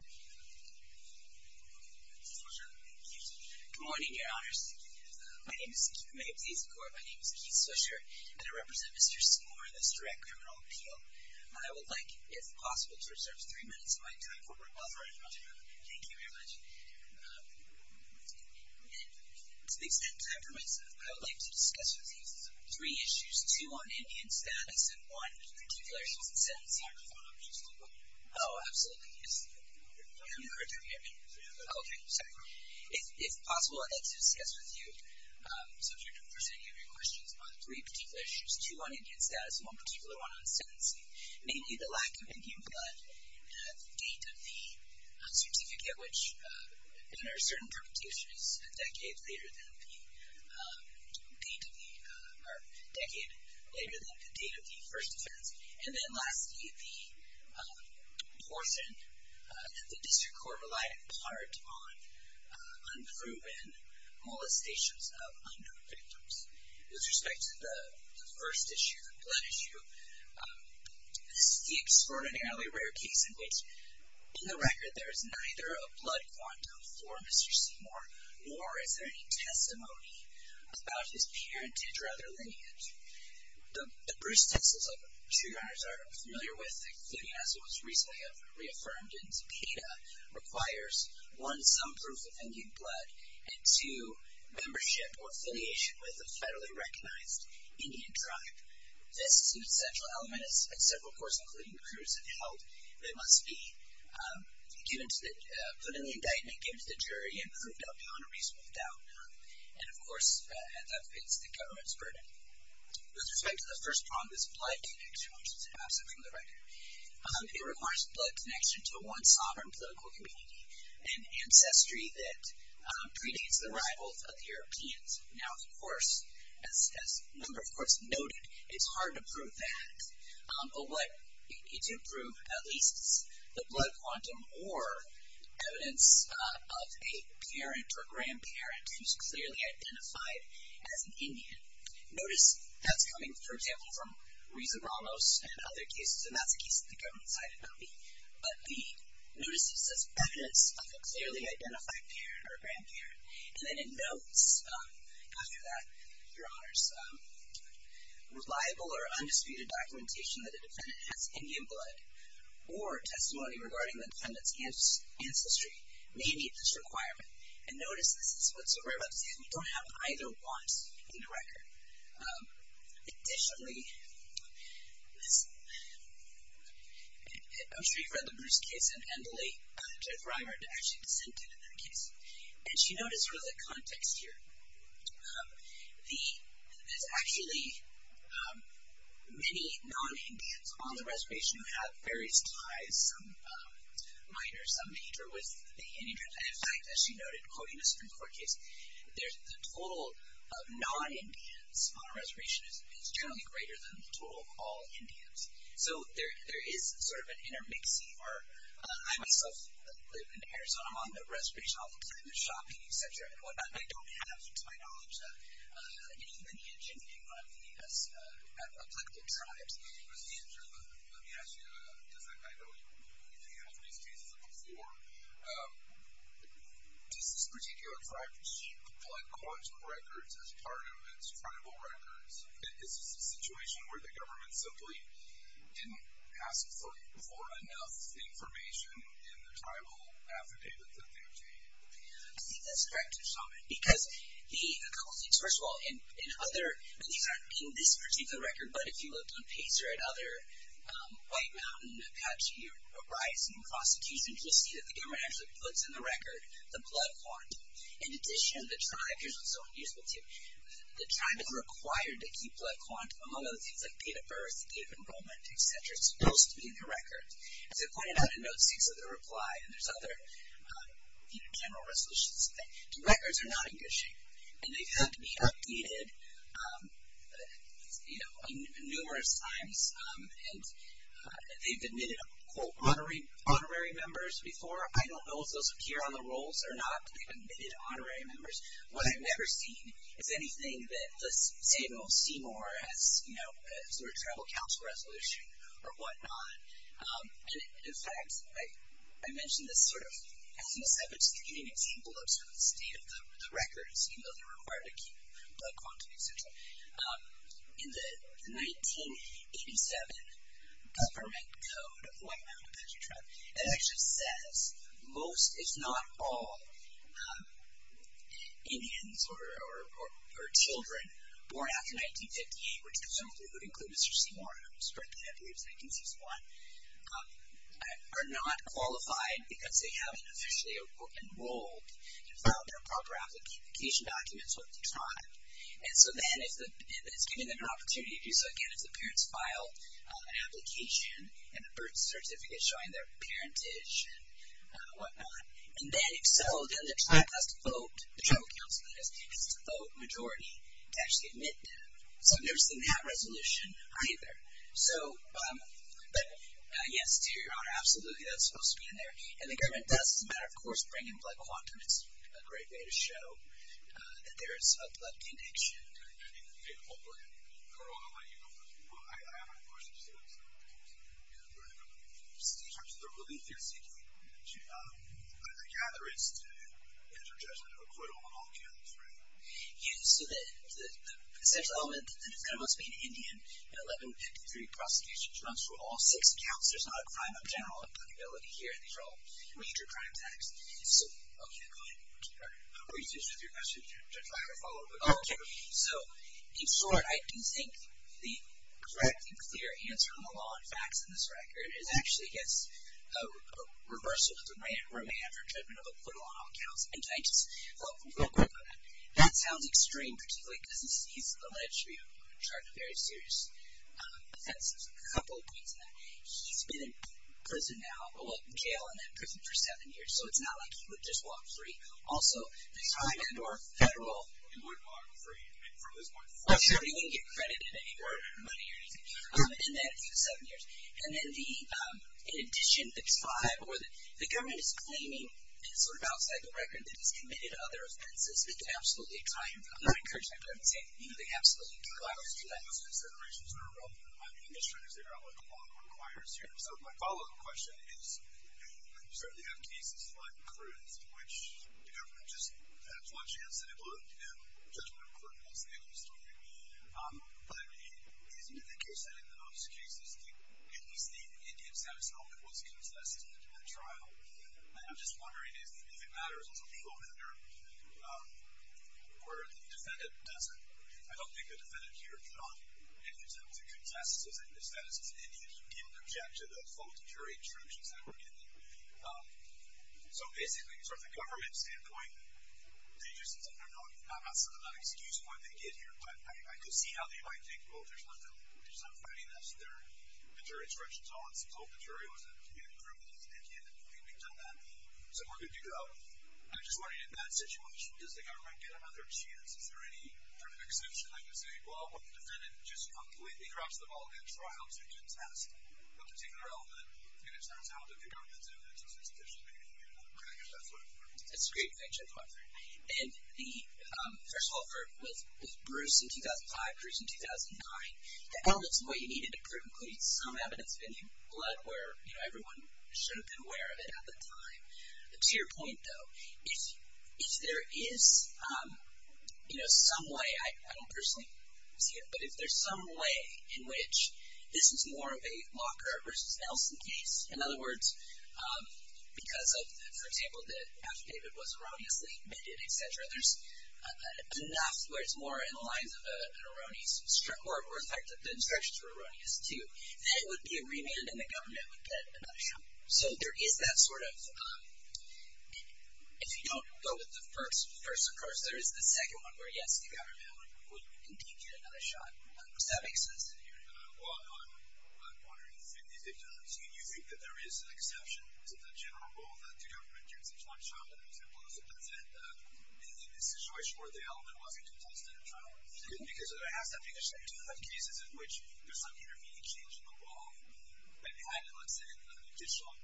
Good morning, your honors. My name is Keith Swisher, and I represent Mr. Seymour in this direct criminal appeal. I would like, if possible, to reserve three minutes of my time for rebuttal. Thank you very much. To the extent that I permit myself, I would like to discuss with you three particular issues, two on Indian status, and one particular case in sentencing. Can I have the phone number, please? Oh, absolutely, yes. I'm going to record that here. Okay, sorry. If possible, I'd like to discuss with you, subject to the force of any of your questions, on three particular issues, two on Indian status, and one particular one on sentencing. Mainly, the lack of Indian blood, and the date of the certificate, which there are certain interpretations, a decade later than the date of the first offense. And then lastly, the portion that the district court relied in part on unproven molestations of unknown victims. With respect to the first issue, the blood issue, this is the extraordinarily rare case in which, in the record, there is neither a blood quantum for Mr. Seymour, nor is there any testimony about his parentage or other lineage. The Bruce Stencils, like the two youngers are familiar with, including as was recently reaffirmed in Zepeda, requires, one, some proof of Indian blood, and two, membership or affiliation with a federally recognized Indian tribe. This essential element is at several courts, including the courts that held that it must be put in the indictment, given to the jury, and proved out beyond a reasonable doubt. And of course, that fits the government's burden. With respect to the first problem, this blood connection, which is absent from the record, it requires blood connection to one sovereign political community, an ancestry that predates the rivals of the Europeans. Now, of course, as a number of courts noted, it's hard to prove that. But what you do prove, at least, is the blood quantum or evidence of a parent or grandparent who's clearly identified as an Indian. Notice, that's coming, for example, from Risa Ramos and other cases, and that's a case of the government-sided copy. But the notice is just evidence of a clearly identified parent or grandparent. And then in notes, after that, your honors, reliable or undisputed documentation that a defendant has Indian blood or testimony regarding the defendant's ancestry may meet this requirement. And notice, this is what's so great about this case, we don't have either one in the record. Additionally, I'm sure you've read the Bruce case and Emily, Jeff Reimer, actually dissented in that case. And she noted sort of the context here. There's actually many non-Indians on the reservation who have various ties, some minor, some major, with the Indian. And in fact, as she noted, quoting a Supreme Court case, the total of non-Indians on a reservation is generally greater than the total of all Indians. So there is sort of an intermixing where I, myself, live in Arizona, I'm on the reservation, I'll be kind of shopping, et cetera, and whatnot. And I don't have, to my knowledge, any lineage in Indian blood in the U.S. afflicted tribes. Hey, Mr. Andrew, let me ask you, because I know you've handled these cases before, does this particular tribe receive blood collection records as part of its tribal records? Is this a situation where the government simply didn't ask for enough information in the tribal affidavit that they obtained? I think that's correct, Mr. Chauvin, because a couple of things. First of all, in other, I mean, these aren't in this particular record, but if you looked on Pacer and other White Mountain, Apache, or Uprising prosecutions, you'll see that the government actually puts in the record the blood font. In addition, the tribe, here's what's so useful to you, the tribe is required to keep blood font, among other things, like date of birth, date of enrollment, et cetera. It's supposed to be in the record. As I pointed out in Note 6 of the reply, and there's other general resolutions to that, the records are not in good shape. And they've had to be updated, you know, numerous times, and they've admitted, quote, honorary members before. I don't know if those appear on the rolls or not, but they've admitted that, let's say they'll see more as, you know, sort of tribal council resolution or whatnot. And in fact, I mentioned this sort of, as an aside, but just to give you an example of sort of the state of the records, you know, they're required to keep blood font, et cetera. In the 1987 government code of the White Mountain Apache tribe, it actually says most, if not all, Indians or children born after 1958, which would include Mr. Seymour, who was born, I believe, in 1961, are not qualified because they haven't officially enrolled to file their proper application documents with the tribe. And so then it's giving them an opportunity to do so again if the parents file an application and a birth certificate showing their parentage and whatnot. And then, if so, then the tribe has to vote, the tribal council, that is, has to vote majority to actually admit them. So there's not resolution either. So, but yes, to your honor, absolutely, that's supposed to be in there. And the government does, as a matter of course, bring in blood quantum. It's a great way to show that there is a blood connection. Hopefully, Carole, I'll let you go first. I have a question to say about the relief you're seeking. I gather it's to interject a quote on all counts, right? Yeah, so the essential element that is kind of what's being Indian in 1153 prosecution runs for all six counts. There's not a crime of general accountability here. These are all major crime taxes. So, okay, go ahead. I'm confused with your question, Judge Wagner, follow up with all two. So, in short, I do think the correctly clear answer on the law and facts in this record is actually against reversal of the remand or judgment of a quote on all counts. And can I just real quick on that? That sounds extreme, particularly because he's alleged to be on charge of very serious offenses. A couple of points on that. He's been in prison now, jail, and then prison for seven years. So it's not like he would just walk free. Also, the tribe and or federal. He wouldn't walk free from this point forward. Sure, he wouldn't get credited anywhere, money or anything, in that seven years. And then the, in addition, the tribe or the government is claiming, sort of outside the record, that he's committed other offenses. It's absolutely a crime. I'm not encouraging that crime. I'm saying they absolutely do have to do that. Those considerations are relevant in this law. So my follow up question is, you certainly have cases like Cruz, in which the government just had a plot chance that it would, you know, judgment of a court, and that's the end of the story. But I mean, isn't it the case that in the most cases, I think, at least the Indian satisfaction was contested in the trial. And I'm just wondering if it matters. Also, people over there, where the defendant doesn't, I don't think the defendant here put on any attempt to contest the status of the Indian. He didn't object to the full jury instructions that were given. So basically, sort of the government standpoint, they just said they're not, I'm not saying they're not excused for what they did here. But I could see how they might think, well, there's nothing, we're just not fighting this. The jury instructions are all in support. The jury was in a community group with the Indian. I think we've done that. So where could you go? I'm just wondering, in that situation, does the government get another chance? Is there any kind of exception? I can say, well, the defendant just completely drops the ball in the trial to contest a particular element, and it turns out that the government's evidence is insufficient. That's a great question. And the, first of all, with Bruce in 2005, Bruce in 2009, the elements of what you needed to prove include some evidence of Indian blood where, you know, everyone should have been aware of it at the time. To your point, though, if there is, you know, some way, I don't personally see it, but if there's some way in which this is more of a Lockhart versus Nelson case, in other words, because of, for example, that Dr. David was erroneously admitted, et cetera, there's enough where it's more in the lines of an erroneous, or in fact, the instructions were erroneous, too. Then it would be a remand, and the government would get another shot. So there is that sort of, if you don't go with the first approach, there is the second one where, yes, the government would indeed get another shot. Does that make sense to you? Well, I'm wondering if you think that there is an exception to the general rule that the government gets a trial shot, and it was implicit, that's it, in a situation where the element wasn't contested in trial. Because there has to be a set of cases in which there's some intermediate change in the law, and behind it, let's say, an additional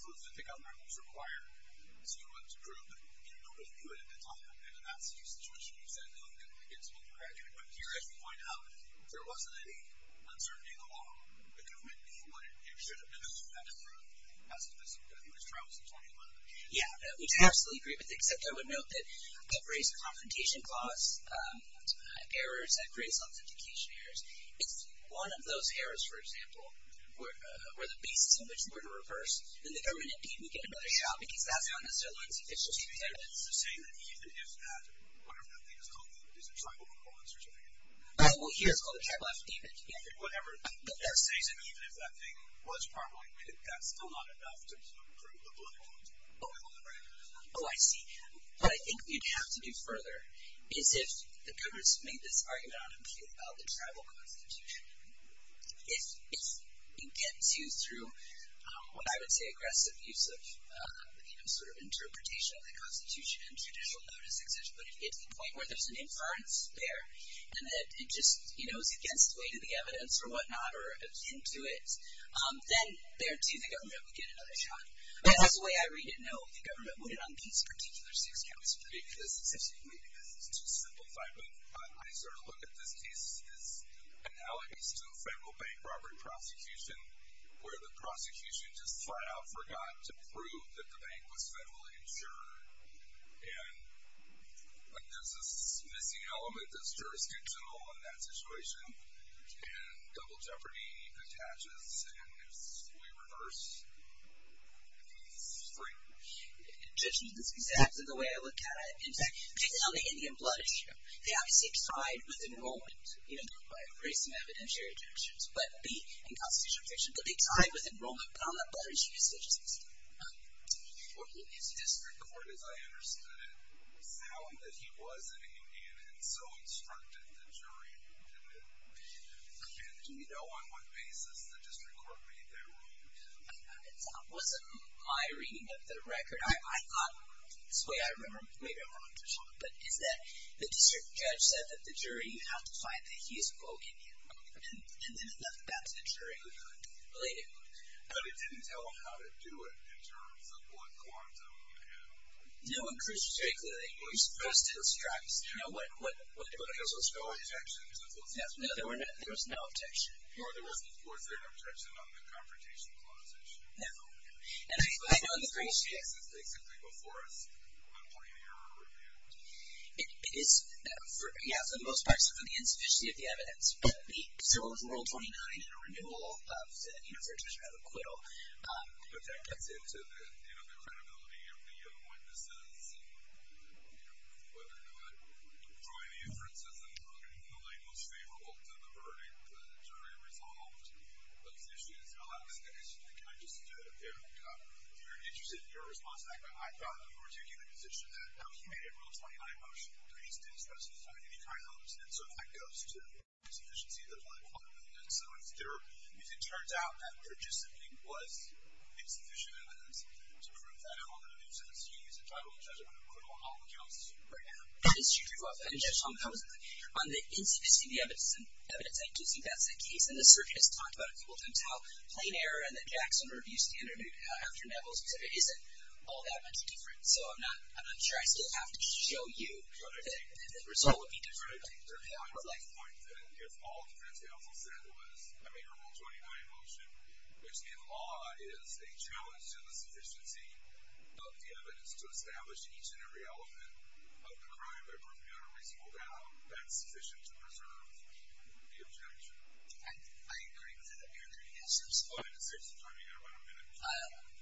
proof that the government was required to prove that nobody knew it at the time, and in that situation, you said, oh, you can get a small degree, but here, as we find out, there wasn't any uncertainty in the law. The government should have been able to do that and prove as implicit, that he was trialed since 2011. Yeah, we'd absolutely agree with it, except I would note that it raised a confrontation clause, errors that create self-indication errors. If one of those errors, for example, were the basis in which we were to reverse, then the government indeed would get another shot, because that's how Mr. Lund's official statement is. So, you're saying that even if that, whatever that thing is called, is it tribal equivalence or something? Oh, well, here it's called a tribal affidavit, yeah. Whatever that says, and even if that thing was probable, that's still not enough to prove the blood equivalence. Oh, I see. What I think we'd have to do further is if the government's made this argument on appeal about the tribal constitution, if it gets used through, I would say, aggressive use of, you know, sort of interpretation of the constitution and judicial notice, et cetera, but it gets to the point where there's an inference there, and it just, you know, is against the weight of the evidence or whatnot, or is into it, then there too, the government would get another shot. That's the way I read it, no, the government wouldn't get another shot on these particular six counties. Maybe this is too simplified, but I sort of look at this case as analogies to a federal bank robbery prosecution, where the prosecution just flat out forgot to prove that the bank was federally insured, and like there's this missing element that's jurisdictional in that situation, and double jeopardy attaches, and we reverse these three. Judges, this is exactly the way I look at it. In fact, particularly on the Indian blood issue, they obviously tied with enrollment, even though by embracing evidentiary protections, but the inconstitutional protections, but they tied with enrollment, but on the blood issue, it's just this. Well, his district court, as I understood it, found that he was an Indian, and so instructed the jury to admit him, and do you know on what basis the district court made that rule? It wasn't my reading of the record. I thought, this way I remember, maybe I'm wrong, but is that the district judge said that the jury had to find that he's an old Indian, and then it left it down to the jury. But it didn't tell them how to do it in terms of what quantum and... No, and Chris was very clear that you were supposed to instruct, you know, what... There was no objection to the solicitation. No, there was no objection. Or there was, of course, an objection on the confrontation clause issue. No, and I know in the first case... But in most cases, they simply before us point an error or review. It is, yeah, for the most part, so for the insufficiency of the evidence, but the civil rule 29 in a renewal of said, you know, certificate of acquittal, but that gets into the, you know, the credibility of the witnesses, and, you know, whether or not drawing the inferences in the light most favorable to the verdict, the jury resolved those issues. Alex, I guess, can I just... I'm very interested in your response to that, but I thought you were taking the position that he made a rule 29 motion, but he didn't specify any kind of... And so that goes to insufficiency of the... And so if it turns out that participating was insufficient evidence to prove that, how am I going to do since he's entitled to judgment of acquittal on all accounts right now? That is true. On the insufficiency of the evidence, I do think that's the case. And the search has talked about a couple of times how plain error and the Jackson review standard after Neville's was that it isn't all that much different, so I'm not sure I still have to show you that the result would be different. I would like to point that if all defense counsel said was, I mean, your rule 29 motion, which in law is a challenge to the sufficiency of the evidence to establish each and every element of the crime that broke the unreasonable doubt, that's sufficient to preserve the objection. I agree with that. Are there any answers? Oh, I didn't see. I mean, I'm going to...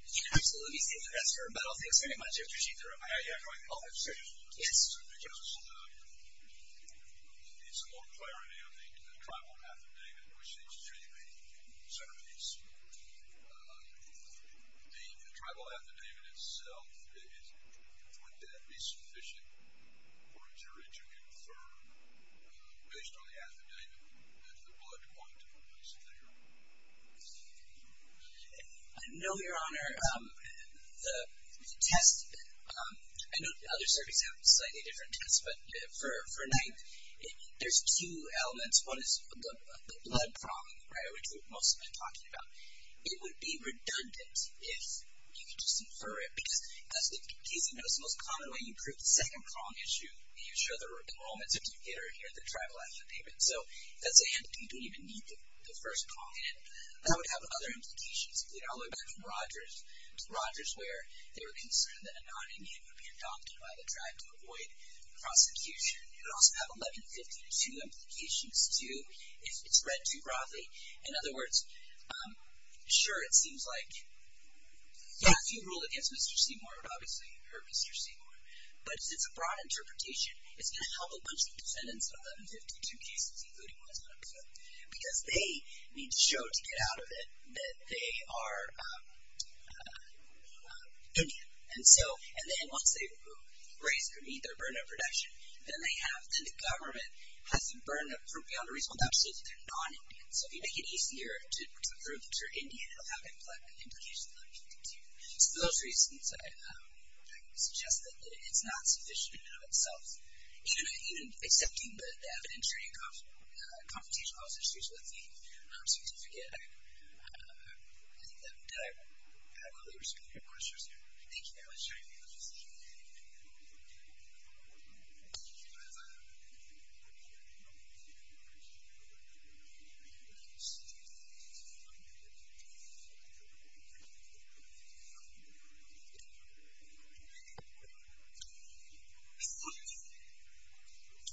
You can absolutely say that that's fair, but I'll thank you very much if you see through it. Yes. Because it needs some more clarity on the tribal affidavit, which seems to be the centerpiece. The tribal affidavit itself, would that be sufficient for a jury to confirm, based on the affidavit, that the blood quantity was there? No, Your Honor. The test, I know other circuits have a slightly different test, but for 9th, there's two elements. One is the blood prong, which we've mostly been talking about. It would be redundant if you could just infer it, because, as Casey knows, the most common way you prove the second prong is you show the enrollments certificate or hear the tribal affidavit. So, that's a hint that you don't even need the first prong in it. That would have other implications, all the way back from Rogers, where they were concerned that a non-Indian would be adopted by the tribe to avoid prosecution. It would also have 1152 implications, too, if it's read too broadly. In other words, sure, it seems like, yeah, if you ruled against Mr. Seymour, it would obviously hurt Mr. Seymour. But it's a broad interpretation. It's going to help a bunch of defendants on the 1152 cases, including one that's not approved, because they need to show to get out of it that they are Indian. And then once they raise or meet their burden of protection, then the government has the burden of proof beyond the reasonable doubt to say that they're non-Indian. So, if you make it easier to prove that you're Indian, it will have implications other people can too. So those reasons, I suggest that it's not sufficient in and of itself. Even accepting the evidentiary and confrontational observations with the certificate, I think that would adequately respond to your questions here. Thank you very much. Thank you.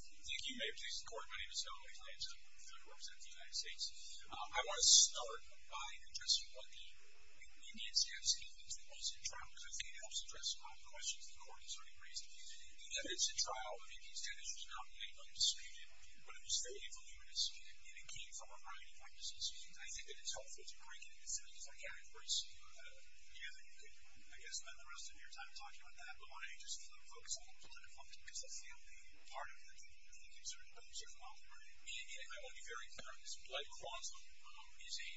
Thank you. May it please the Court. My name is Hillary Lance. I represent the United States. I want to start by addressing one of the Indian status statements that was interrupted. I think it helps address a lot of the questions the Court has already raised. The evidence at trial of Indian status was not made undisputed, but it was fairly voluminous, and it came from a variety of witnesses. I think that it's helpful to break it into things. I can't embrace any of it. You can, I guess, spend the rest of your time talking about that, but I just want to focus a little bit on it, because I feel that you were part of it, and I think it's certainly well-deserved. I want to be very clear on this. Blood quantum is a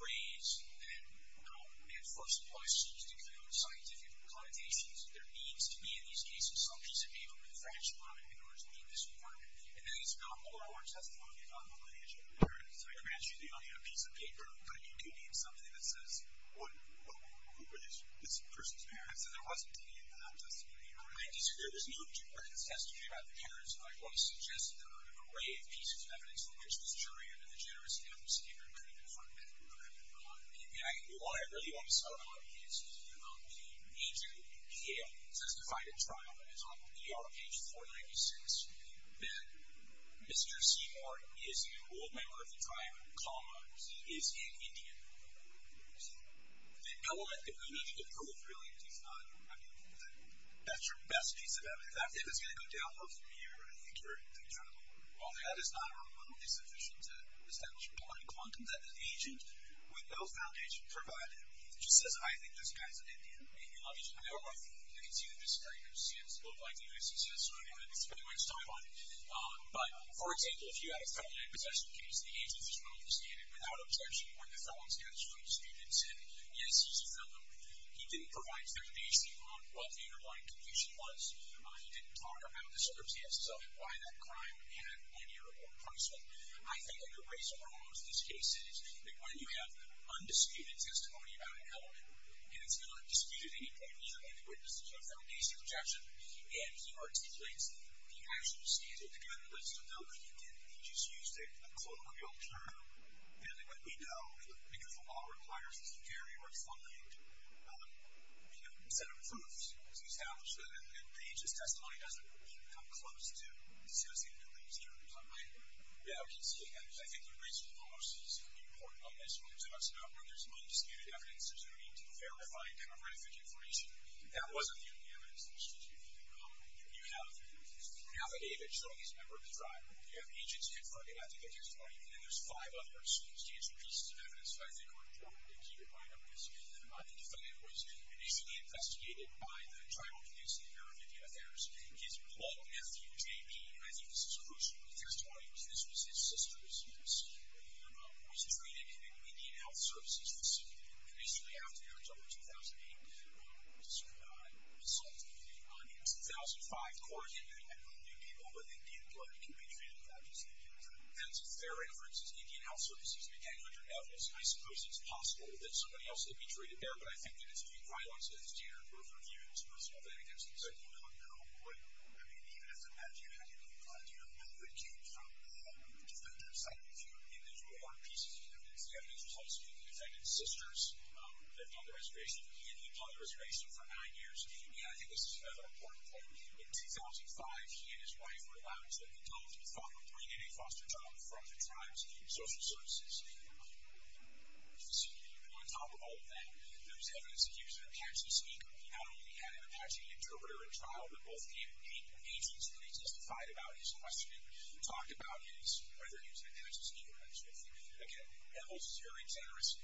phrase that first applies to just a kind of scientific connotations. There needs to be, in these cases, some piece of paper from the French department in order to be this important. And then it's not moral or testimony about the lineage of the parents. I grant you that you don't have a piece of paper, but you do need something that says what group is this person's parents, and there wasn't any in the non-testimony. I disagree. There was no jubilant testimony about the parents. I want to suggest that there are an array of pieces of evidence, but there's this jury under the generous counsel that came from the French department. And what I really want to settle on is the major EPA testifying trial that is on ER page 496, that Mr. Seymour is an old member of the tribe, comma, is an Indian. The element that we need to approve, really, is not, I mean, that's your best piece of evidence. In fact, if it's going to go down over a year, I think you're in trouble. Well, that is not remotely sufficient to establish a point in quantum that an agent with no foundation provided just says, I think this guy's an Indian. And you love each other. I don't know if you can see the discrepancy. It looks like the U.S. is sort of having too much time on it. But, for example, if you had a felony possession case, the agent is well-understanded without objection. One of the felons got his foot in the student's head. Yes, he's a felon. He didn't provide standardization on what the underlying conviction was. He didn't talk about the circumstances of it, why that crime had any or more punishment. I think a good reason for most of these cases is that when you have undisputed testimony about an element and it's not disputed at any point, you don't need to witness a standardization objection, and he articulates the actual standard to get a list of those. He didn't. He just used a colloquial term. And we know, because the law requires this very refined set of proofs, it's established that the agent's testimony doesn't really come close to associative beliefs during the time. Yeah, I can see that. I think the reason almost is important on this when he talks about when there's undisputed evidence, there's no need to verify demographic information. That wasn't the only evidence in the statute. You have an affidavit showing he's a member of the tribe. You have agents confronting ethical testimony. And then there's five other substantial pieces of evidence that I think are important to keep in mind. I think the defendant was initially investigated by the tribal police in the area of Indian Affairs. His blood nephew, JB, and I think this is crucial, but there's 20 years. This was his sister who was treated in an Indian health services facility. And basically after that, until 2008, as a result of the 2005 court hearing, they found new people with Indian blood who could be treated that way. So that's a fair reference. Indian health services became under evidence, and I suppose it's possible that somebody else could be treated there, but I think that it's due to violence and it's due to a group of humans, and it's possible that it gets incited. I mean, even if it had to do with blood, do you know who it came from? The defendant cited a few individual pieces of evidence. The evidence tells me that the defendant's sisters lived on the reservation, and he lived on the reservation for nine years. And I think this is another important point. In 2005, he and his wife were allowed into an adult who was thought to be bringing in a foster child from the tribe's social services facility. On top of all of that, there was evidence that he was an Apache speaker. He not only had an Apache interpreter in trial, but both the agents that he testified about his questioning talked about his, whether he was an Apache speaker or not. So I think, again, evidence is very generous. It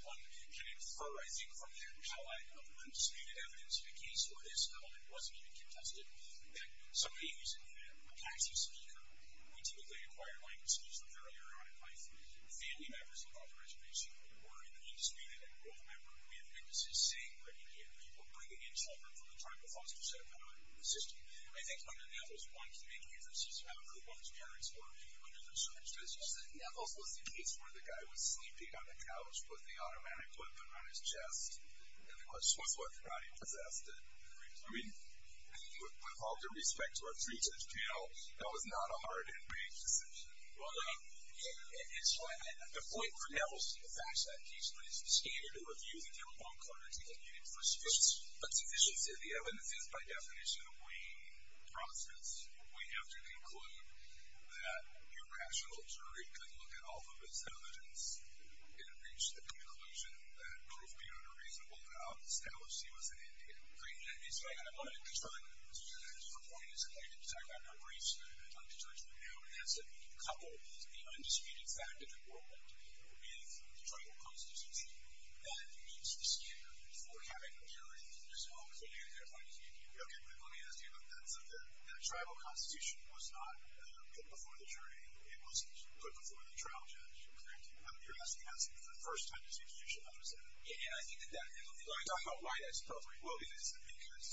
can infer, I think, from that, how that undisputed evidence in a case where this element wasn't even contested, that somebody who's an Apache speaker would typically acquire likenesses that they're earlier on in life. The family members of the reservation who were an undisputed enrolled member, we have witnesses saying that he did, were bringing in children from the tribal foster set up in the system. And I think under Nevils, one can make inferences about who one's parents were under those circumstances. Nevils was the case where the guy was sleeping on the couch with the automatic weapon on his chest, which was what the body possessed. I mean, with all due respect to our three judges panel, that was not a hard and brief decision. Well, I mean, it's when the point for Nevils in the fact that he's the scanner to review the telephone cards he had needed for speech. But since you said the evidence is, by definition, a weighing process, we have to conclude that your rational jury could look at all of his evidence and reach the conclusion that proof be unreasonable without establishing what's in it. Great, and it's like, I wanted to try to, to your point as a plaintiff, to talk about your briefs on the judgment now, and that's a couple of the undisputed fact of enrollment with the tribal constitution that meets the standard for having a jury as long as they're doing their findings. Okay, but let me ask you about that. So the tribal constitution was not put before the jury. It was put before the trial judge. Correct. You're asking, that's the first time the situation I was in. Yeah, and I think that that, and I'm talking about why that's appropriate. Well, because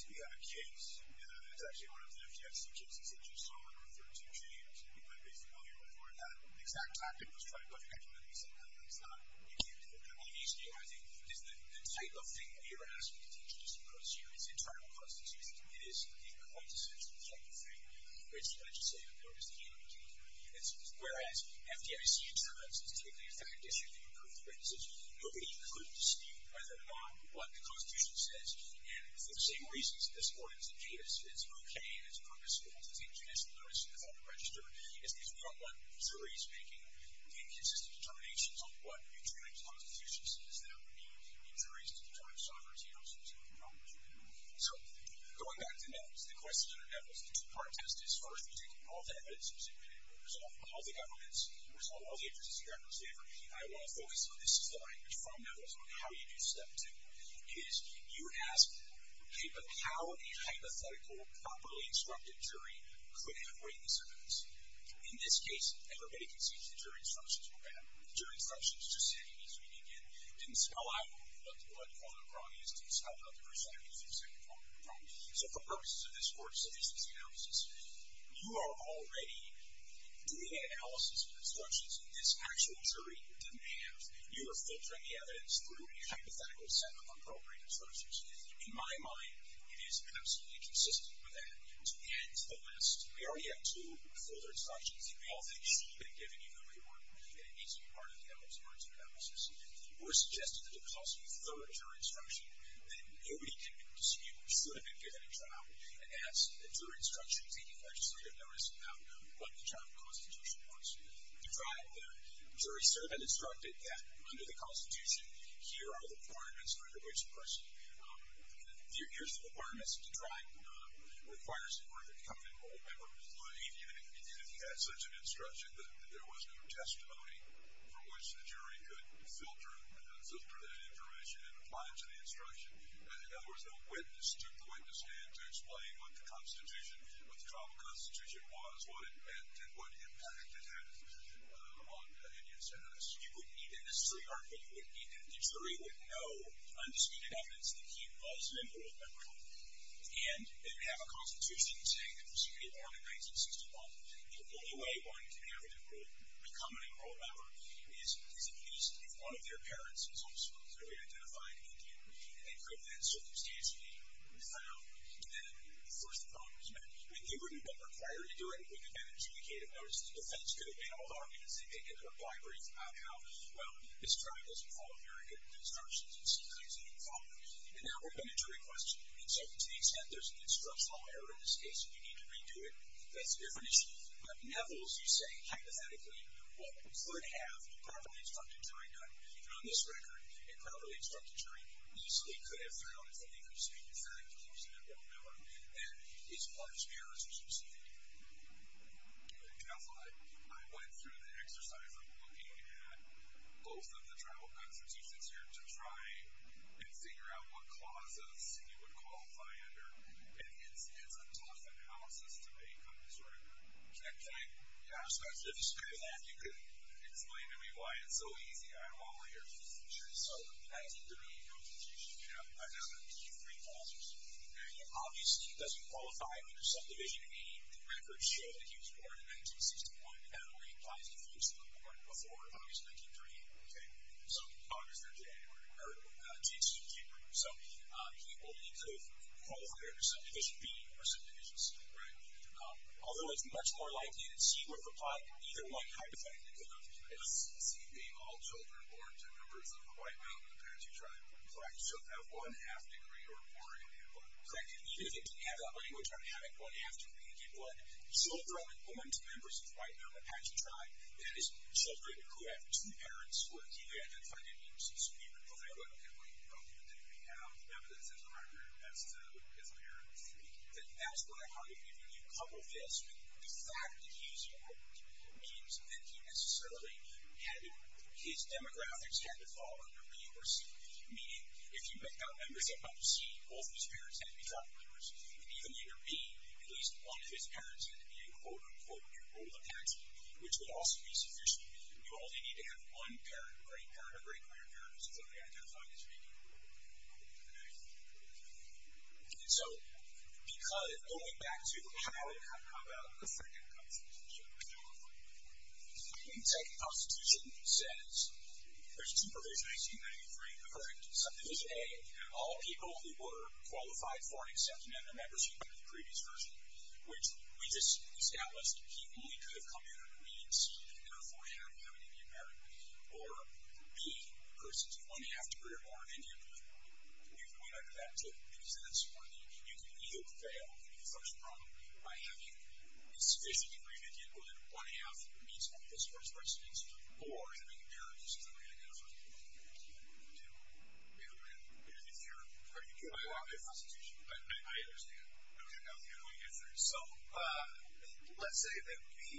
you have a case, it's actually one of the FDIC cases that you saw referred to James, but basically all year before that, the exact time it was tried by the judge was when he said, no, that's not, you can't do that. What it means to you, I think, is that the type of thing that you're asking to introduce across units in tribal constitutions is the quintessential type of thing, where it's the legislative bill, it's the human duty bill, it's whereas FDIC in some instances typically is the condition to recruit the witnesses. Nobody could dispute whether or not what the constitution says. And for the same reasons, this court is a case, it's okay, and it's purposeful to take judicial notice without a register. It's because we don't want juries making inconsistent determinations on what a tribal constitution says that would be in juries to determine sovereignty. I'm sure some of you know what you're doing. So, going back to Neville's, the questions under Neville's, the two-part test is first, we take all the evidence, we submit it, we resolve all the governments, we resolve all the interests of the African-American people. And I want to focus on, this is the language from Neville's, on how you do step two, is you ask, okay, but how a hypothetical, properly instructed jury could have written this evidence? In this case, everybody can see that the jury instructions were bad. The jury instructions just said, you need to read it again, it didn't spell out what the problem is, it didn't spell out the percentages, it didn't say what the problem is. So, for purposes of this court's efficiency analysis, you are already doing an analysis of instructions that this actual jury didn't have. You are filtering the evidence through a hypothetical set of appropriate instructions. In my mind, it is absolutely consistent with that. To end the list, we already have two folder instructions, we all think should have been given, even though they weren't, that it needs to be part of Neville's court's analysis. If it were suggested that it cost you a third jury instruction, then nobody could dispute it should have been given in trial, as a jury instruction taking legislative notice about what the trial constitution wants you to do. To drive the jury servant instructed that under the constitution, here are the requirements for the voice of person. Here's the requirements to drive requires the work of the covenantal member. Even if you had such an instruction that there was no testimony from which the jury could filter that information and apply it to the instruction, in other words, the witness took the witness stand to explain what the trial constitution was, what it meant, and what impact it had on India's status. You wouldn't need to necessarily argue, you wouldn't need to, the jury would know undisputed evidence that he was a member of Neville, and they would have a constitution saying that he was born in 1961. The only way one can have a member, become a member of Neville is at least if one of their parents is also clearly identified as Indian, and they prove that circumstantially in trial, then of course the problem is met. They wouldn't require you to do it with advantage of the candidate. Notice the defense could have made a whole argument and taken a brief about how, well, this trial doesn't follow very good instructions and some things that didn't follow. And now we're coming to a question, and so to the extent there's an instructional error in this case and you need to redo it, that's a different issue. But Neville, as you say, hypothetically, what could have a properly instructed jury done, even on this record, a properly instructed jury easily could have found something to speak to the fact that he was a member of Neville and he's a part of the Superior Institution. Counsel, I went through the exercise of looking at both of the trial constitutions here to try and figure out what clauses you would qualify under, and it's a tough analysis to make on this record. Can I, can I? Yeah, I'm sorry. If you could explain to me why it's so easy, I don't know why we're here. Sure. So, the 1930 constitution, I found a few free clauses. Now, obviously, he doesn't qualify under subdivision A. The record shows that he was born in 1961, and it only applies to folks who were born before August 1938, okay? So, August or January, or June, June, January. So, he only could have qualified under subdivision B or subdivision C, right? Although it's much more likely that C would apply to either one hypothetical, it doesn't seem to be all children born to members of the White Mountain Apache Tribe. Correct. So, a one-half degree or more. Correct. Even if it didn't have that language on having one-half degree, it did what? Children born to members of the White Mountain Apache Tribe, that is, children who have two parents or even if I didn't use this, we would qualify. Okay, well, you probably didn't have evidence as a record as to his parents. That's what I'm arguing. If you couple this with the fact that he's American, it means that he necessarily had, his demographics had to fall under B or C, meaning if you make out members of C, both of his parents had to be tribal members and even if they were B, at least one of his parents had to be a quote-unquote enrolled Apache, which would also be sufficient. You only need to have one parent, a great-grandparent, or a great-great-grandparent to fully identify as being European. Okay. And so, because, going back to the child, how about a second constitution? A second constitution says there's two provisions in 1993. The first subdivision, A, all people who were qualified for an acceptance have their membership under the previous version, which we just established he only could have come here under B and C and therefore had to have an Indian parent or B, persons of one-half degree or more of Indian descent. You can go back to that because that's one of the, you can either fail in the first problem by having a sufficient degree of Indian descent, one-half, which means all his first residents, or having parents that were identified in 1992, may have been, if you're, or you can go back to the constitution. I understand. Okay. So, let's say that we,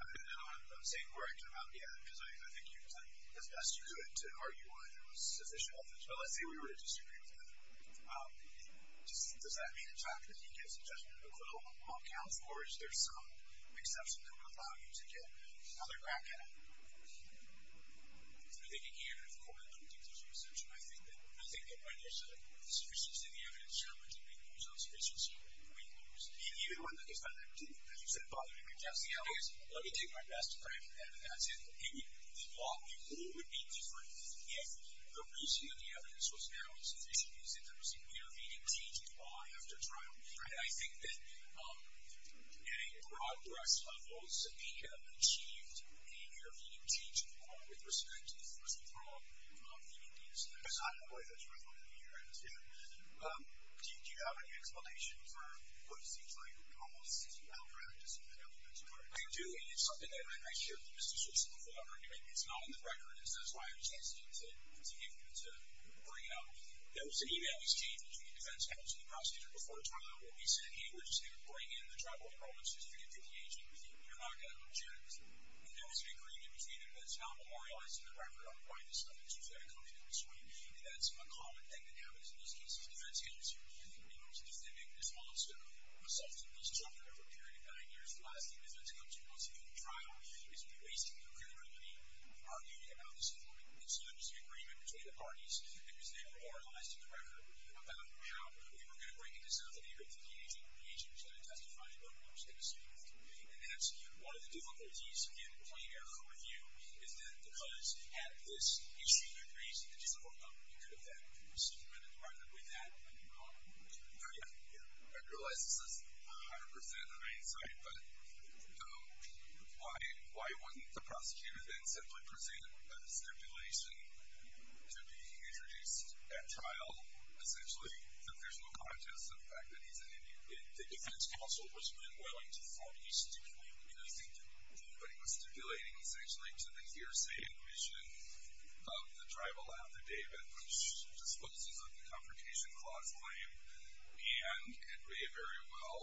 and I'm saying correct him out again because I think you did as best you could to argue why there was sufficient evidence, but let's say we were to disagree with him. Does that mean in fact that he gives a judgment of equivalent among counts, or is there some exception that would allow you to get another bracket? I think again, of course, I don't think there's an exception. I think that, I think that when there's a sufficiency of the evidence, there are a bunch of people who lose on sufficiency and we lose. Even when, as you said, Bob, let me take my best friend and that's it. The law, the rule would be different if the reason that the evidence was not sufficient is that there was an intervening deed in the law after trial. And I think that at a broad brush level, we have achieved an intervening deed to the court with respect to the first withdrawal of the indian citizen. Because I don't believe that's relevant here. I understand. Do you have any explanation for what seems like an almost sitting malpractice of the government's part? I do, and it's something that I share with Mr. Schultz and the floor. It's not on the record, and so that's why I was asking him to bring out, there was an email he received between the defense counsel and the prosecutor before trial where he said, hey, we're just going to bring in the tribal enrollments just to get to the agency. We're not going to object. And there was an agreement between them that's now memorialized in the record on why this stuff is so difficult to do this way. And that's a common thing that happens in these cases. Defense counsels who have been the most definitive in this law have assaulted these children over a period of nine years. The last thing the defense counsel wants to do in trial is be wasting their credibility arguing about this to the parties because they memorialized in the record about how we were going to bring in this entity or this agency to testify about what was going to be smoothed. And hence, one of the difficulties in playing error with you is that because at this you see the increase in the discipline level you could have then seen right in the record with that being introduced at trial essentially that there's no conscience of the fact that he's an Indian. The defense counsel was unwilling to formally stipulate what he was stipulating essentially to the hearsay and vision of the tribal affidavit which disposes of the Confrontation Clause claim and it does not play a very well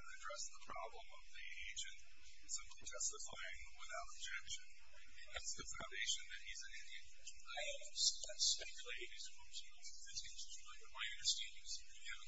address the problem of the agent simply testifying without objection. That's the foundation that he's an Indian. I speculate that my understanding is that if you have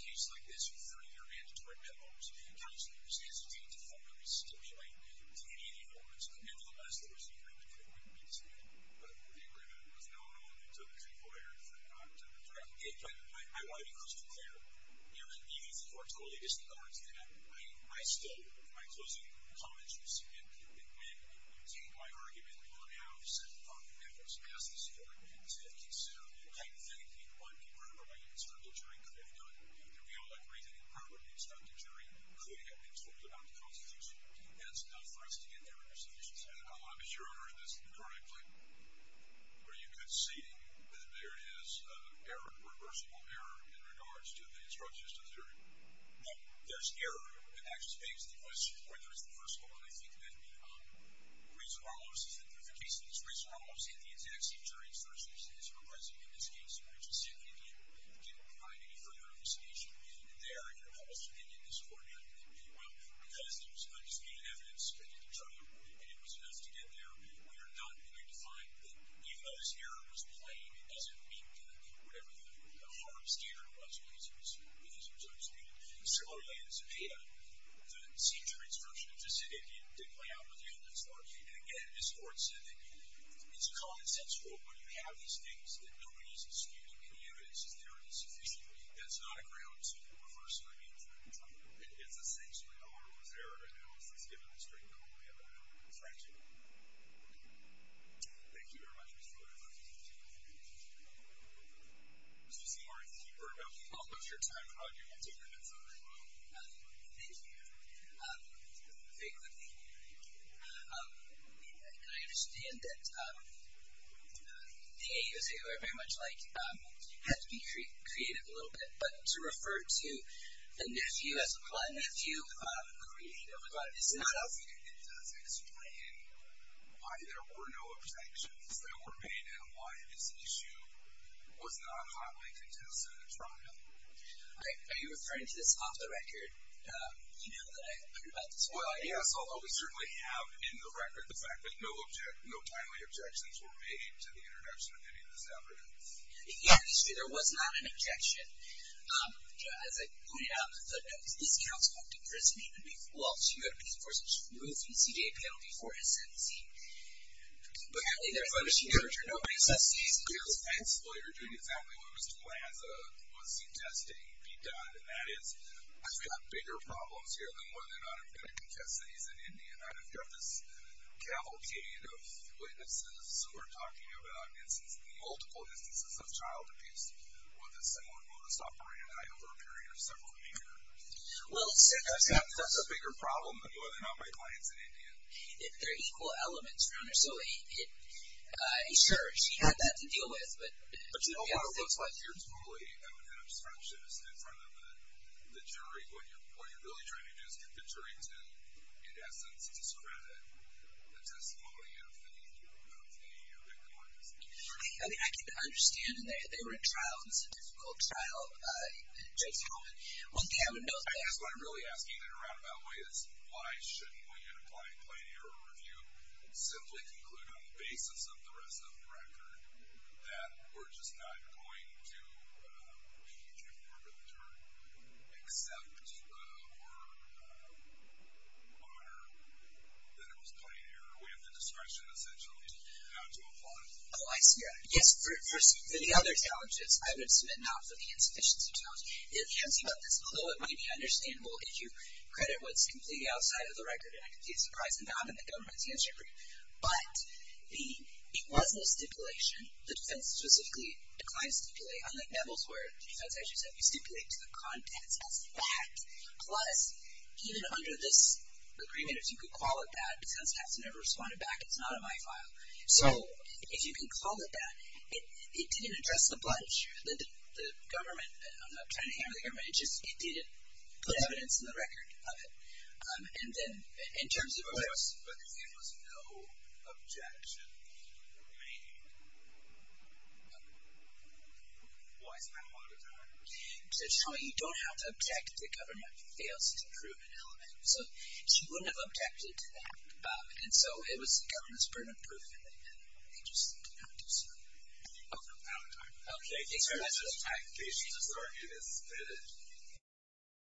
a case like this